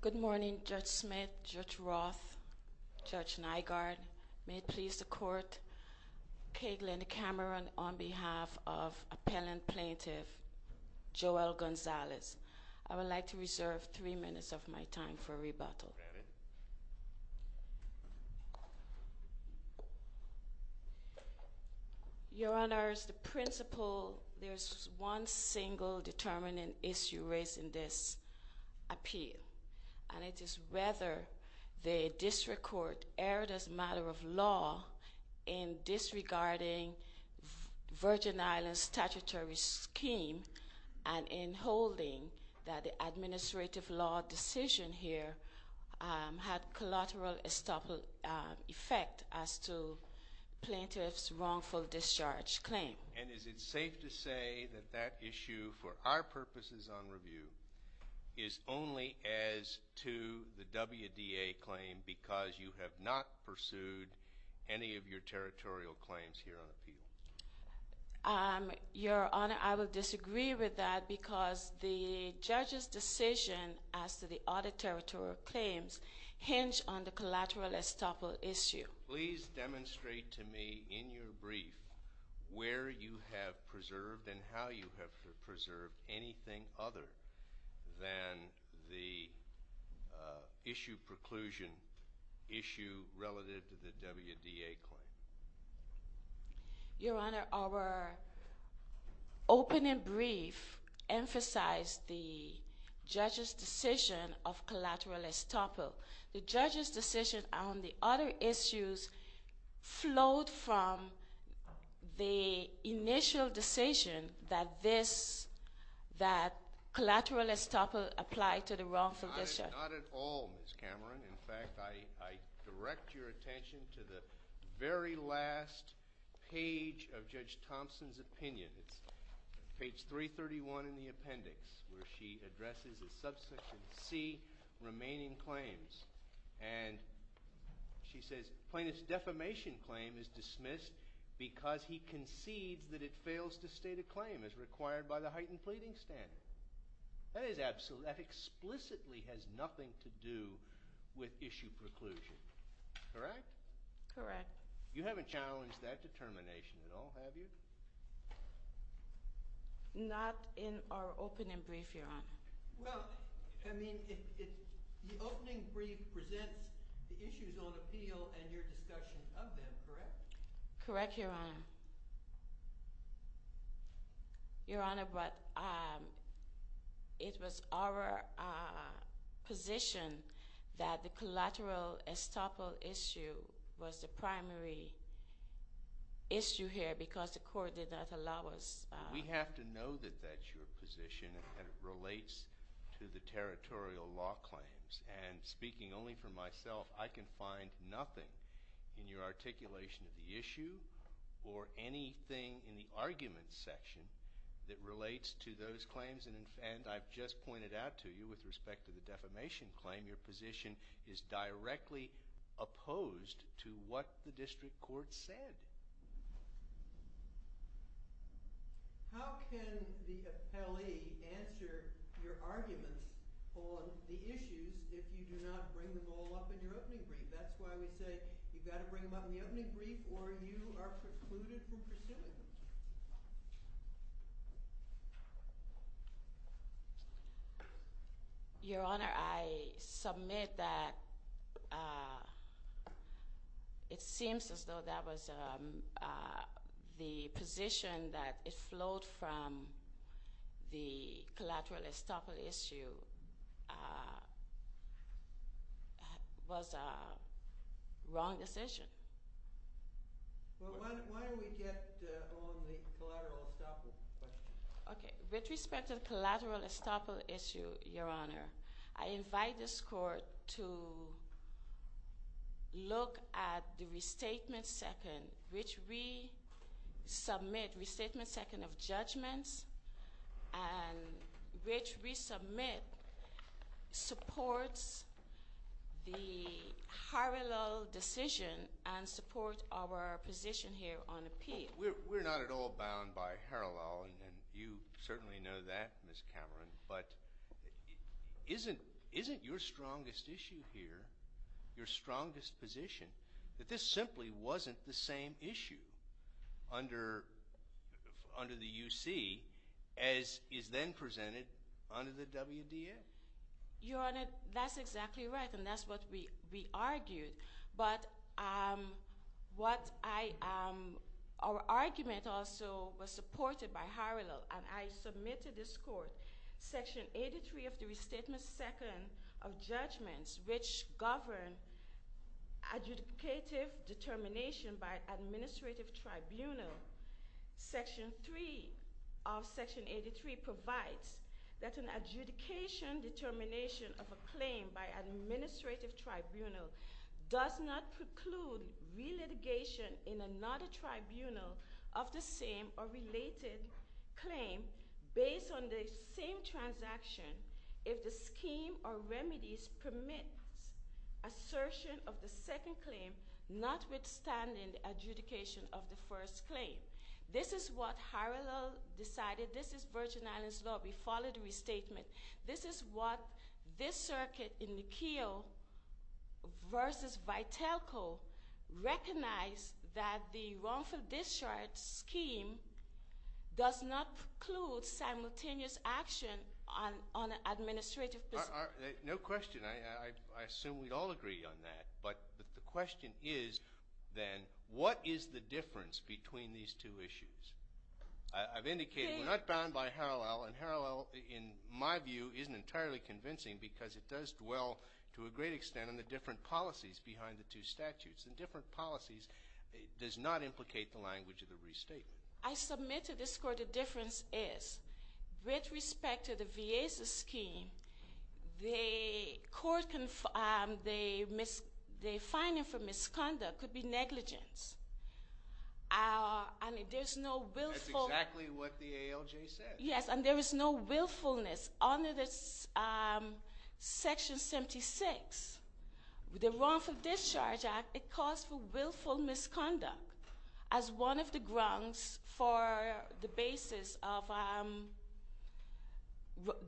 Good morning, Judge Smith, Judge Roth, Judge Nygaard. May it please the court, Cagley and Cameron, on behalf of appellant plaintiff Joelle Gonzalez, I would like to reserve three minutes of my time for rebuttal. Your Honor, as the principle, there is one single determining issue raised in this appeal, and it is whether the district court erred as a matter of law in disregarding Virgin Islands statutory scheme and in holding that the administrative law decision here had collateral effect as to plaintiff's wrongful discharge claim. And is it safe to say that that issue, for our purposes on review, is only as to the WDA claim because you have not pursued any of your territorial claims here on appeal? Your Honor, the audit territorial claims hinge on the collateral estoppel issue. Please demonstrate to me in your brief where you have preserved and how you have preserved anything other than the issue preclusion issue relative to the WDA claim. Your Honor, our opening brief emphasized the judge's decision of collateral estoppel. The judge's decision on the other issues flowed from the initial decision that this, that collateral estoppel applied to the wrongful discharge. Not at all, Ms. Cameron. In fact, I direct your attention to the very last page of Judge Thompson's opinion. It's page 331 in the appendix where she addresses the subsection C, remaining claims. And she says, plaintiff's defamation claim is dismissed because he concedes that it fails to state a claim as required by the heightened pleading standard. That is absolutely, that explicitly has nothing to do with issue preclusion. Correct? Correct. You haven't challenged that determination at all, have you? Not in our opening brief, Your Honor. Well, I mean, the opening brief presents the issues on appeal and your discussion of them, correct? Correct, Your Honor. Your Honor, but it was our position that the collateral estoppel issue was the primary issue here because the court did not allow us. We have to know that that's your position and it relates to the territorial law claims. And speaking only for myself, I can find nothing in your claims and I've just pointed out to you with respect to the defamation claim, your position is directly opposed to what the district court said. How can the appellee answer your arguments on the issues if you do not bring them all up in your opening brief? That's why we say you've got to bring them up in the opening brief or you are precluded from pursuing them. Your Honor, I submit that it seems as though that was the position that it flowed from the collateral estoppel issue was a wrong decision. Okay, with respect to the collateral estoppel issue, Your Honor, I invite this court to look at the restatement second, which we submit restatement second of judgments and which we submit supports the Harallel decision and supports our position here on appeal. We're not at all bound by Harallel and you certainly know that, Ms. Cameron, but isn't your strongest issue here, your strongest position, that this simply wasn't the same issue under the UC as is then presented under the WDF? Your Honor, that's exactly right and that's what we argued, but our argument also was supported by Harallel and I submit to this court section 83 of the restatement second of judgments which govern adjudicative determination by administrative tribunal. Section 3 of section 83 provides that an adjudication determination of a claim by administrative tribunal does not preclude relitigation in another tribunal of the same or related claim based on the same transaction if the scheme or remedies permit assertion of the second claim notwithstanding the adjudication of the first claim. This is what Harallel decided. This is Virgin Islands Law. We followed the restatement. This is what this circuit in the Keogh versus Vitelco recognized that the wrongful discharge scheme does not preclude simultaneous action on an administrative position. No question. I assume we'd all agree on that, but the question is then what is the difference between these two issues? I've indicated we're not bound by Harallel and Harallel in my view isn't entirely convincing because it does dwell to a great extent on the different policies behind the two statutes and different policies does not implicate the language of the restatement. I With respect to the VASA scheme, the court confirmed the finding for misconduct could be negligence and there's no willfulness under this section 76. The wrongful discharge act, it calls for willful misconduct as one of the grounds for the basis of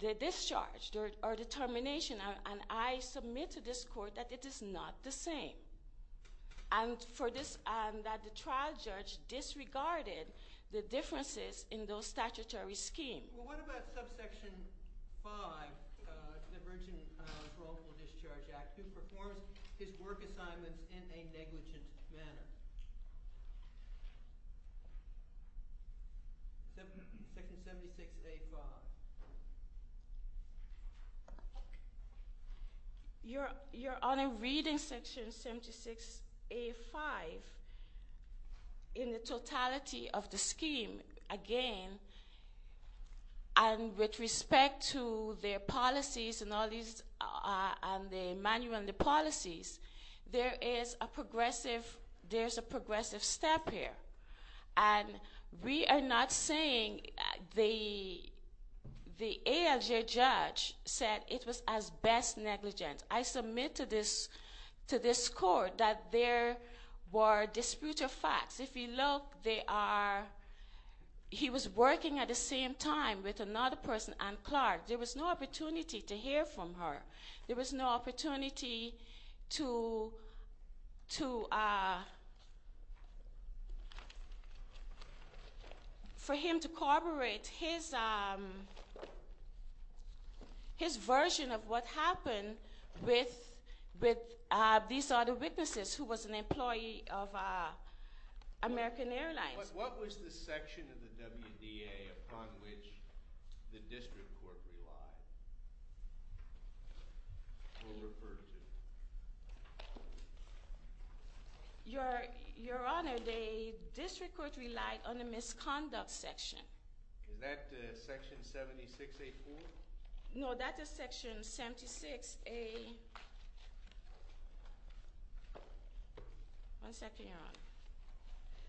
the discharge or determination and I submit to this court that it is not the same and for this and that the trial judge disregarded the differences in those statutory schemes. Well what about subsection 5, the virgin wrongful discharge act, who performs his work assignments in a negligent manner? Section 76A5. You're on a reading section 76A5 in the totality of the scheme again and with respect to their policies and all these and the manual and the policies, there is a progressive, there's a progressive step here and we are not saying that the ALJ judge said it was as best negligent. I submit to this court that there were disputed facts. If you look, they are, he was working at the same time with another person, Ann Clark. There was no opportunity to hear from her. There was no opportunity to, for him to corroborate his version of what happened with these other witnesses who was an employee of American Airlines. What was the section of the WDA upon which the district court relied? Your Honor, the district court relied on the misconduct section. Is that section 76A4? No, that is section 76A, one second, Your Honor.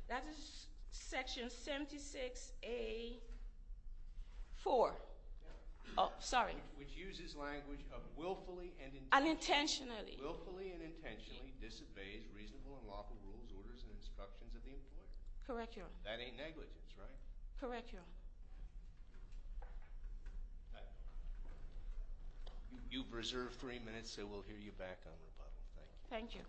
That is section 76A4. Which uses language of willfully and intentionally disobeys reasonable and lawful rules, orders, and instructions of the employee. That ain't negligence, right? Correct, Your Honor. You've reserved three minutes, so we'll hear you back on rebuttal. Thank you.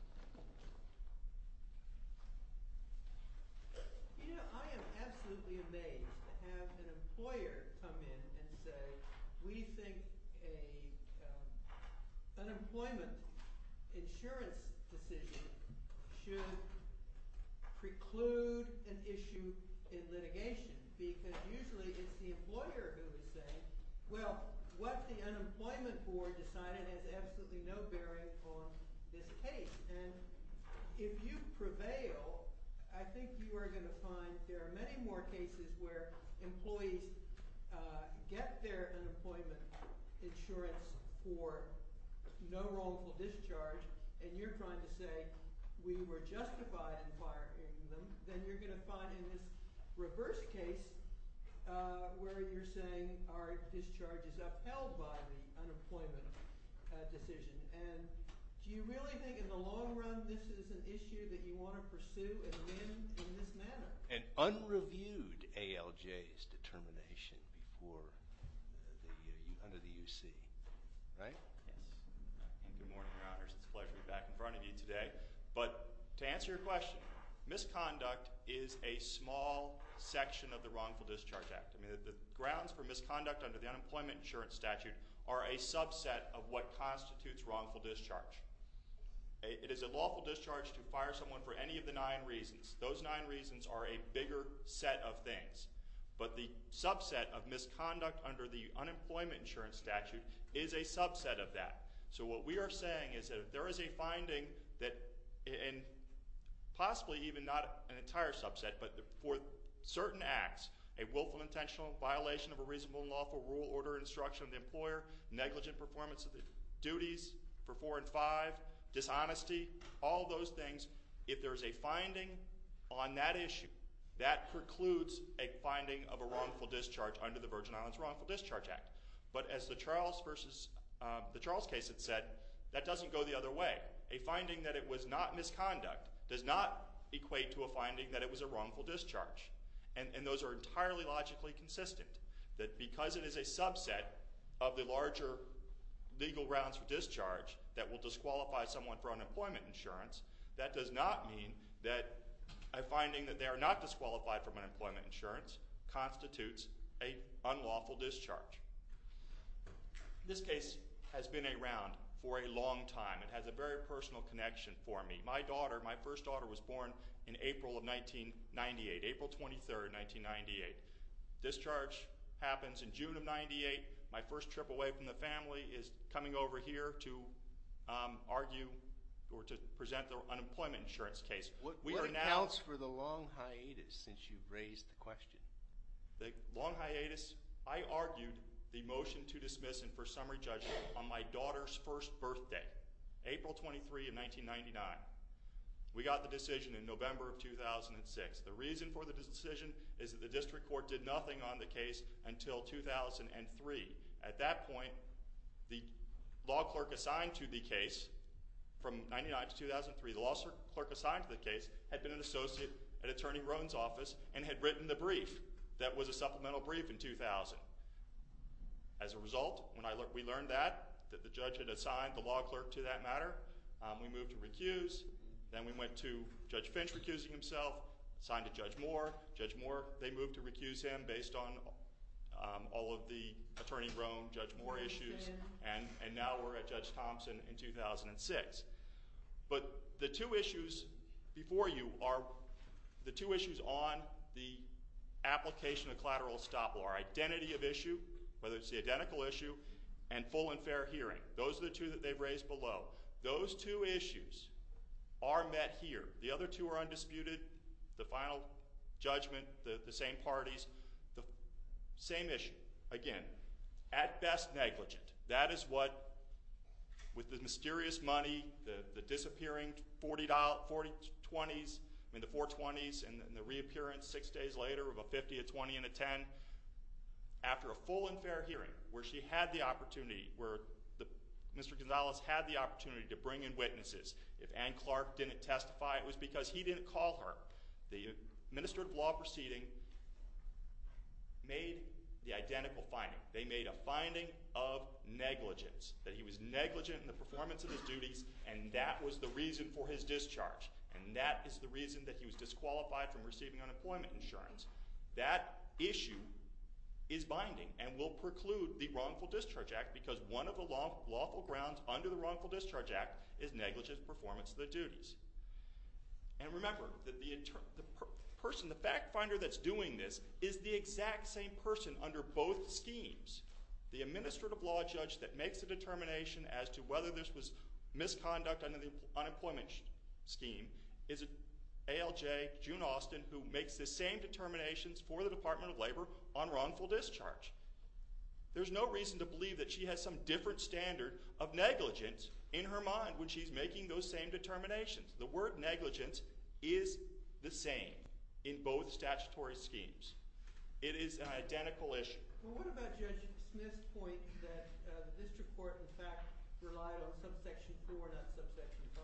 Well, what the unemployment board decided has absolutely no bearing on this case. And if you prevail, I think you are going to find there are many more cases where employees get their unemployment insurance for no wrongful discharge, and you're trying to say we were justified in firing them. Then you're going to find in this reverse case where you're saying our discharge is upheld by the unemployment decision. And do you really think in the long run this is an issue that you want to pursue and win in this manner? An unreviewed ALJ's determination before, under the UC, right? Yes. Good morning, Your Honors. It's a pleasure to be back in front of you today. But to answer your question, misconduct is a small section of the Wrongful Discharge Act. The grounds for misconduct under the Unemployment Insurance Statute are a subset of what constitutes wrongful discharge. It is a lawful discharge to fire someone for any of the nine reasons. Those nine reasons are a bigger set of things. But the subset of misconduct under the Unemployment Insurance Statute is a subset of that. So what we are saying is that if there is a finding that, and possibly even not an entire subset, but for certain acts. A willful intentional violation of a reasonable lawful rule order instruction of the employer, negligent performance of the duties for four and five, dishonesty, all those things. If there's a finding on that issue, that precludes a finding of a wrongful discharge under the Virgin Islands Wrongful Discharge Act. But as the Charles versus, the Charles case had said, that doesn't go the other way. A finding that it was not misconduct does not equate to a finding that it was a wrongful discharge. And those are entirely logically consistent. That because it is a subset of the larger legal grounds for discharge, that will disqualify someone for unemployment insurance. That does not mean that a finding that they are not disqualified from unemployment insurance constitutes a unlawful discharge. This case has been around for a long time. It has a very personal connection for me. My daughter, my first daughter, was born in April of 1998, April 23rd, 1998. Discharge happens in June of 98. My first trip away from the family is coming over here to argue or to present the unemployment insurance case. We are now- What accounts for the long hiatus since you've raised the question? The long hiatus? I argued the motion to dismiss and for summary judgment on my daughter's first birthday, April 23rd of 1999. We got the decision in November of 2006. The reason for the decision is that the district court did nothing on the case until 2003. At that point, the law clerk assigned to the case, from 1999 to 2003, the law clerk assigned to the case had been an associate at Attorney Rohn's office and had written the brief that was a supplemental brief in 2000. As a result, when we learned that, that the judge had assigned the law clerk to that matter, we moved to recuse. Then we went to Judge Finch recusing himself, assigned to Judge Moore. Judge Moore, they moved to recuse him based on all of the Attorney Rohn, Judge Moore issues. And now we're at Judge Thompson in 2006. But the two issues before you are the two issues on the application of collateral stop law. Identity of issue, whether it's the identical issue, and full and fair hearing. Those are the two that they've raised below. Those two issues are met here. The other two are undisputed. The final judgment, the same parties, the same issue. Again, at best negligent. That is what, with the mysterious money, the disappearing $40, $40.20s, I mean the $4.20s, and the reappearance six days later of a $50, a $20, and a $10. After a full and fair hearing, where she had the opportunity, where Mr. Gonzalez had the opportunity to bring in witnesses. If Ann Clark didn't testify, it was because he didn't call her. The administrative law proceeding made the identical finding. They made a finding of negligence. That he was negligent in the performance of his duties, and that was the reason for his discharge. And that is the reason that he was disqualified from receiving unemployment insurance. That issue is binding, and will preclude the Wrongful Discharge Act, because one of the lawful grounds under the Wrongful Discharge Act is negligent performance of the duties. And remember, the person, the fact finder that's doing this is the exact same person under both schemes. The administrative law judge that makes the determination as to whether this was misconduct under the unemployment scheme is ALJ June Austin, who makes the same determinations for the Department of Labor on wrongful discharge. There's no reason to believe that she has some different standard of negligence in her mind when she's making those same determinations. The word negligence is the same in both statutory schemes. It is an identical issue. Well, what about Judge Smith's point that the district court, in fact, relied on subsection 4, not subsection 5?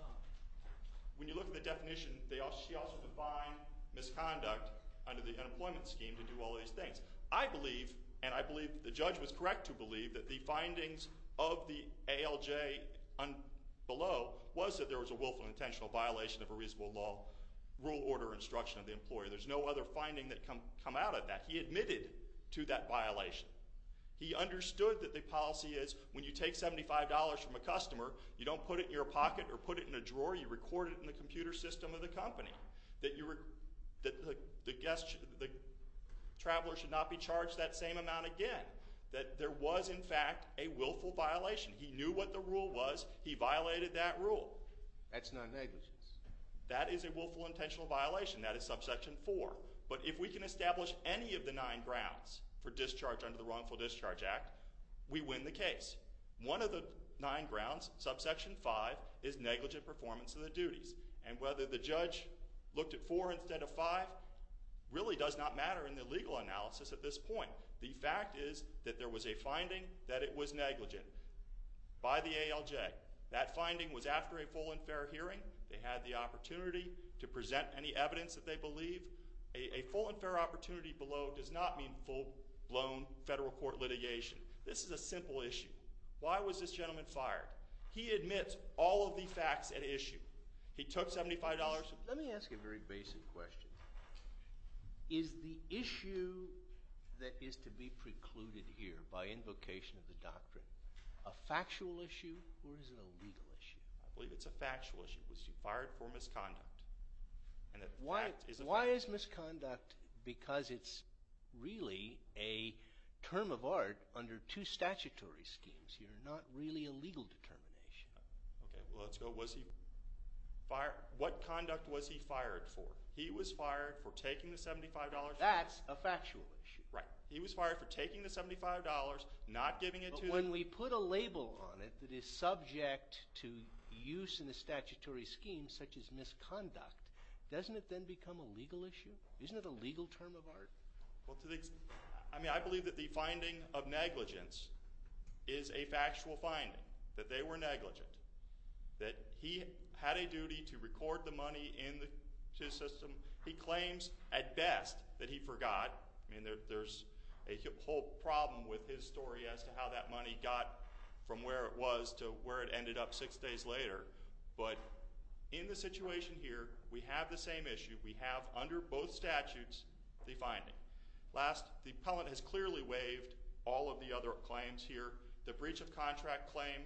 When you look at the definition, she also defined misconduct under the unemployment scheme to do all of these things. I believe, and I believe the judge was correct to believe, that the findings of the ALJ below was that there was a willful and intentional violation of a reasonable law rule order instruction of the employer. There's no other finding that come out of that. He admitted to that violation. He understood that the policy is when you take $75 from a customer, you don't put it in your pocket or put it in a drawer. You record it in the computer system of the company. That the traveler should not be charged that same amount again. That there was, in fact, a willful violation. He knew what the rule was. He violated that rule. That's not negligence. That is a willful, intentional violation. That is subsection 4. But if we can establish any of the nine grounds for discharge under the Wrongful Discharge Act, we win the case. One of the nine grounds, subsection 5, is negligent performance of the duties. And whether the judge looked at 4 instead of 5 really does not matter in the legal analysis at this point. The fact is that there was a finding that it was negligent by the ALJ. That finding was after a full and fair hearing. They had the opportunity to present any evidence that they believe. A full and fair opportunity below does not mean full-blown federal court litigation. This is a simple issue. Why was this gentleman fired? He admits all of the facts at issue. He took $75. Let me ask you a very basic question. Is the issue that is to be precluded here by invocation of the doctrine a factual issue or is it a legal issue? I believe it's a factual issue. Was he fired for misconduct? Why is misconduct? Because it's really a term of art under two statutory schemes. You're not really a legal determination. Okay. Well, let's go. Was he fired? What conduct was he fired for? He was fired for taking the $75. That's a factual issue. Right. He was fired for taking the $75, not giving it to the… When we put a label on it that is subject to use in a statutory scheme such as misconduct, doesn't it then become a legal issue? Isn't it a legal term of art? I mean I believe that the finding of negligence is a factual finding, that they were negligent, that he had a duty to record the money in his system. He claims at best that he forgot. I mean there's a whole problem with his story as to how that money got from where it was to where it ended up six days later. But in the situation here, we have the same issue. We have under both statutes the finding. Last, the appellant has clearly waived all of the other claims here. The breach of contract claim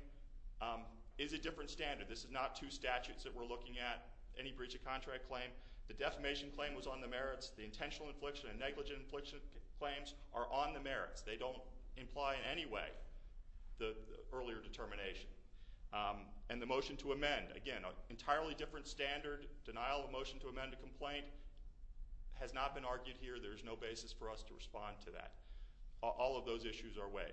is a different standard. This is not two statutes that we're looking at, any breach of contract claim. The defamation claim was on the merits. The intentional infliction and negligent infliction claims are on the merits. They don't imply in any way the earlier determination. And the motion to amend, again, an entirely different standard. Denial of motion to amend a complaint has not been argued here. There is no basis for us to respond to that. All of those issues are waived.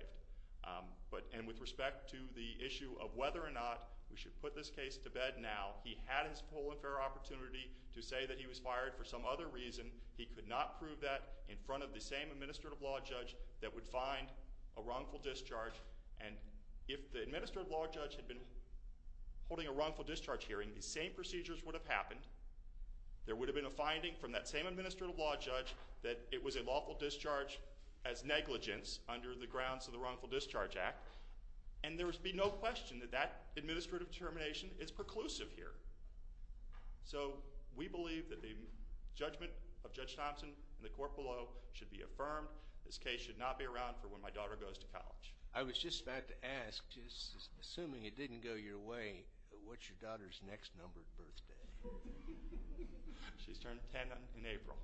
And with respect to the issue of whether or not we should put this case to bed now, he had his whole and fair opportunity to say that he was fired for some other reason. He could not prove that in front of the same administrative law judge that would find a wrongful discharge. And if the administrative law judge had been holding a wrongful discharge hearing, the same procedures would have happened. There would have been a finding from that same administrative law judge that it was a lawful discharge as negligence under the grounds of the Wrongful Discharge Act. And there would be no question that that administrative determination is preclusive here. So, we believe that the judgment of Judge Thompson and the court below should be affirmed. This case should not be around for when my daughter goes to college. I was just about to ask, just assuming it didn't go your way, what's your daughter's next numbered birthday? She's turning 10 in April.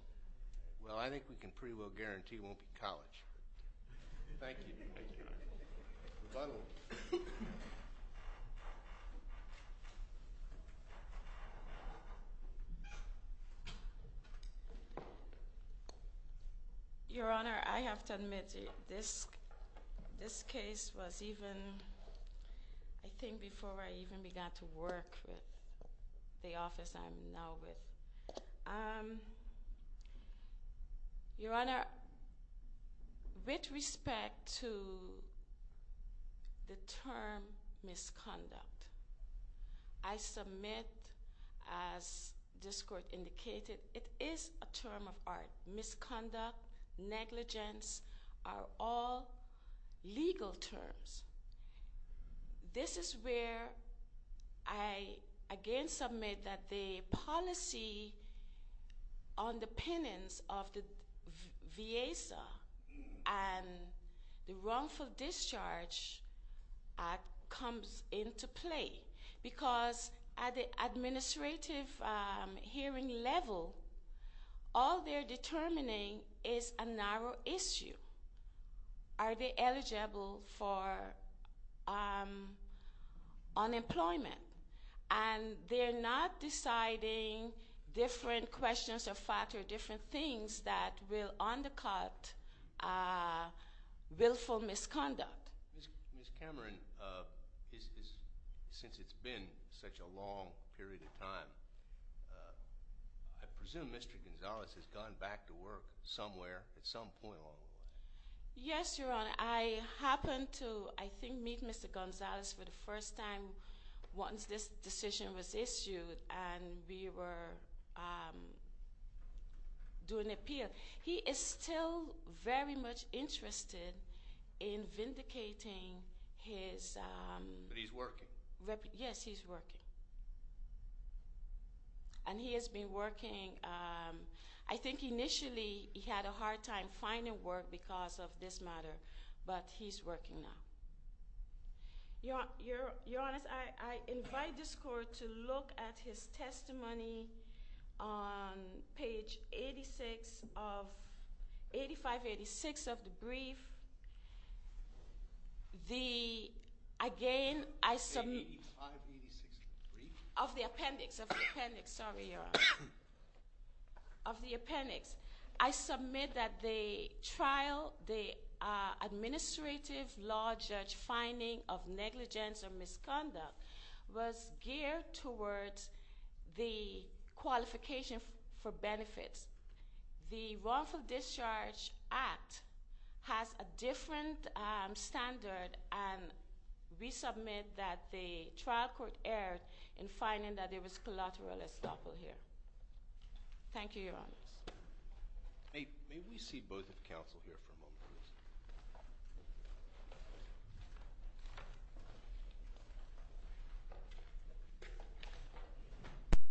Well, I think we can pretty well guarantee it won't be college. Thank you. Final. Your Honor, I have to admit, this case was even, I think, before I even began to work with the office I'm now with. But, Your Honor, with respect to the term misconduct, I submit, as this court indicated, it is a term of art. Misconduct, negligence are all legal terms. This is where I again submit that the policy on the penance of the VASA and the wrongful discharge comes into play. Because at the administrative hearing level, all they're determining is a narrow issue. Are they eligible for unemployment? And they're not deciding different questions of factor, different things that will undercut willful misconduct. Ms. Cameron, since it's been such a long period of time, I presume Mr. Gonzalez has gone back to work somewhere at some point along the way. Yes, Your Honor. I happened to, I think, meet Mr. Gonzalez for the first time once this decision was issued and we were doing appeal. He is still very much interested in vindicating his- But he's working? Yes, he's working. And he has been working, I think initially he had a hard time finding work because of this matter. But he's working now. Your Honor, I invite this court to look at his testimony on page 8586 of the brief. The, again, I submit- 8586 of the brief? Of the appendix, of the appendix. Sorry, Your Honor. Of the appendix. I submit that the trial, the administrative law judge finding of negligence or misconduct was geared towards the qualification for benefits. The wrongful discharge act has a different standard and we submit that the trial court erred in finding that there was collateral estoppel here. Thank you, Your Honor. May we see both of the counsel here for a moment, please?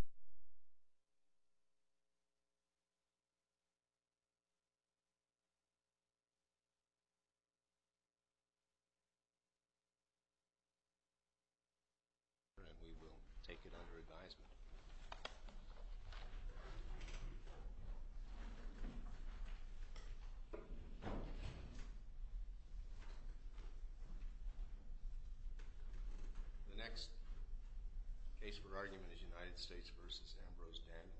And we will take it under advisement. The next case for argument is United States v. Ambrose Dann.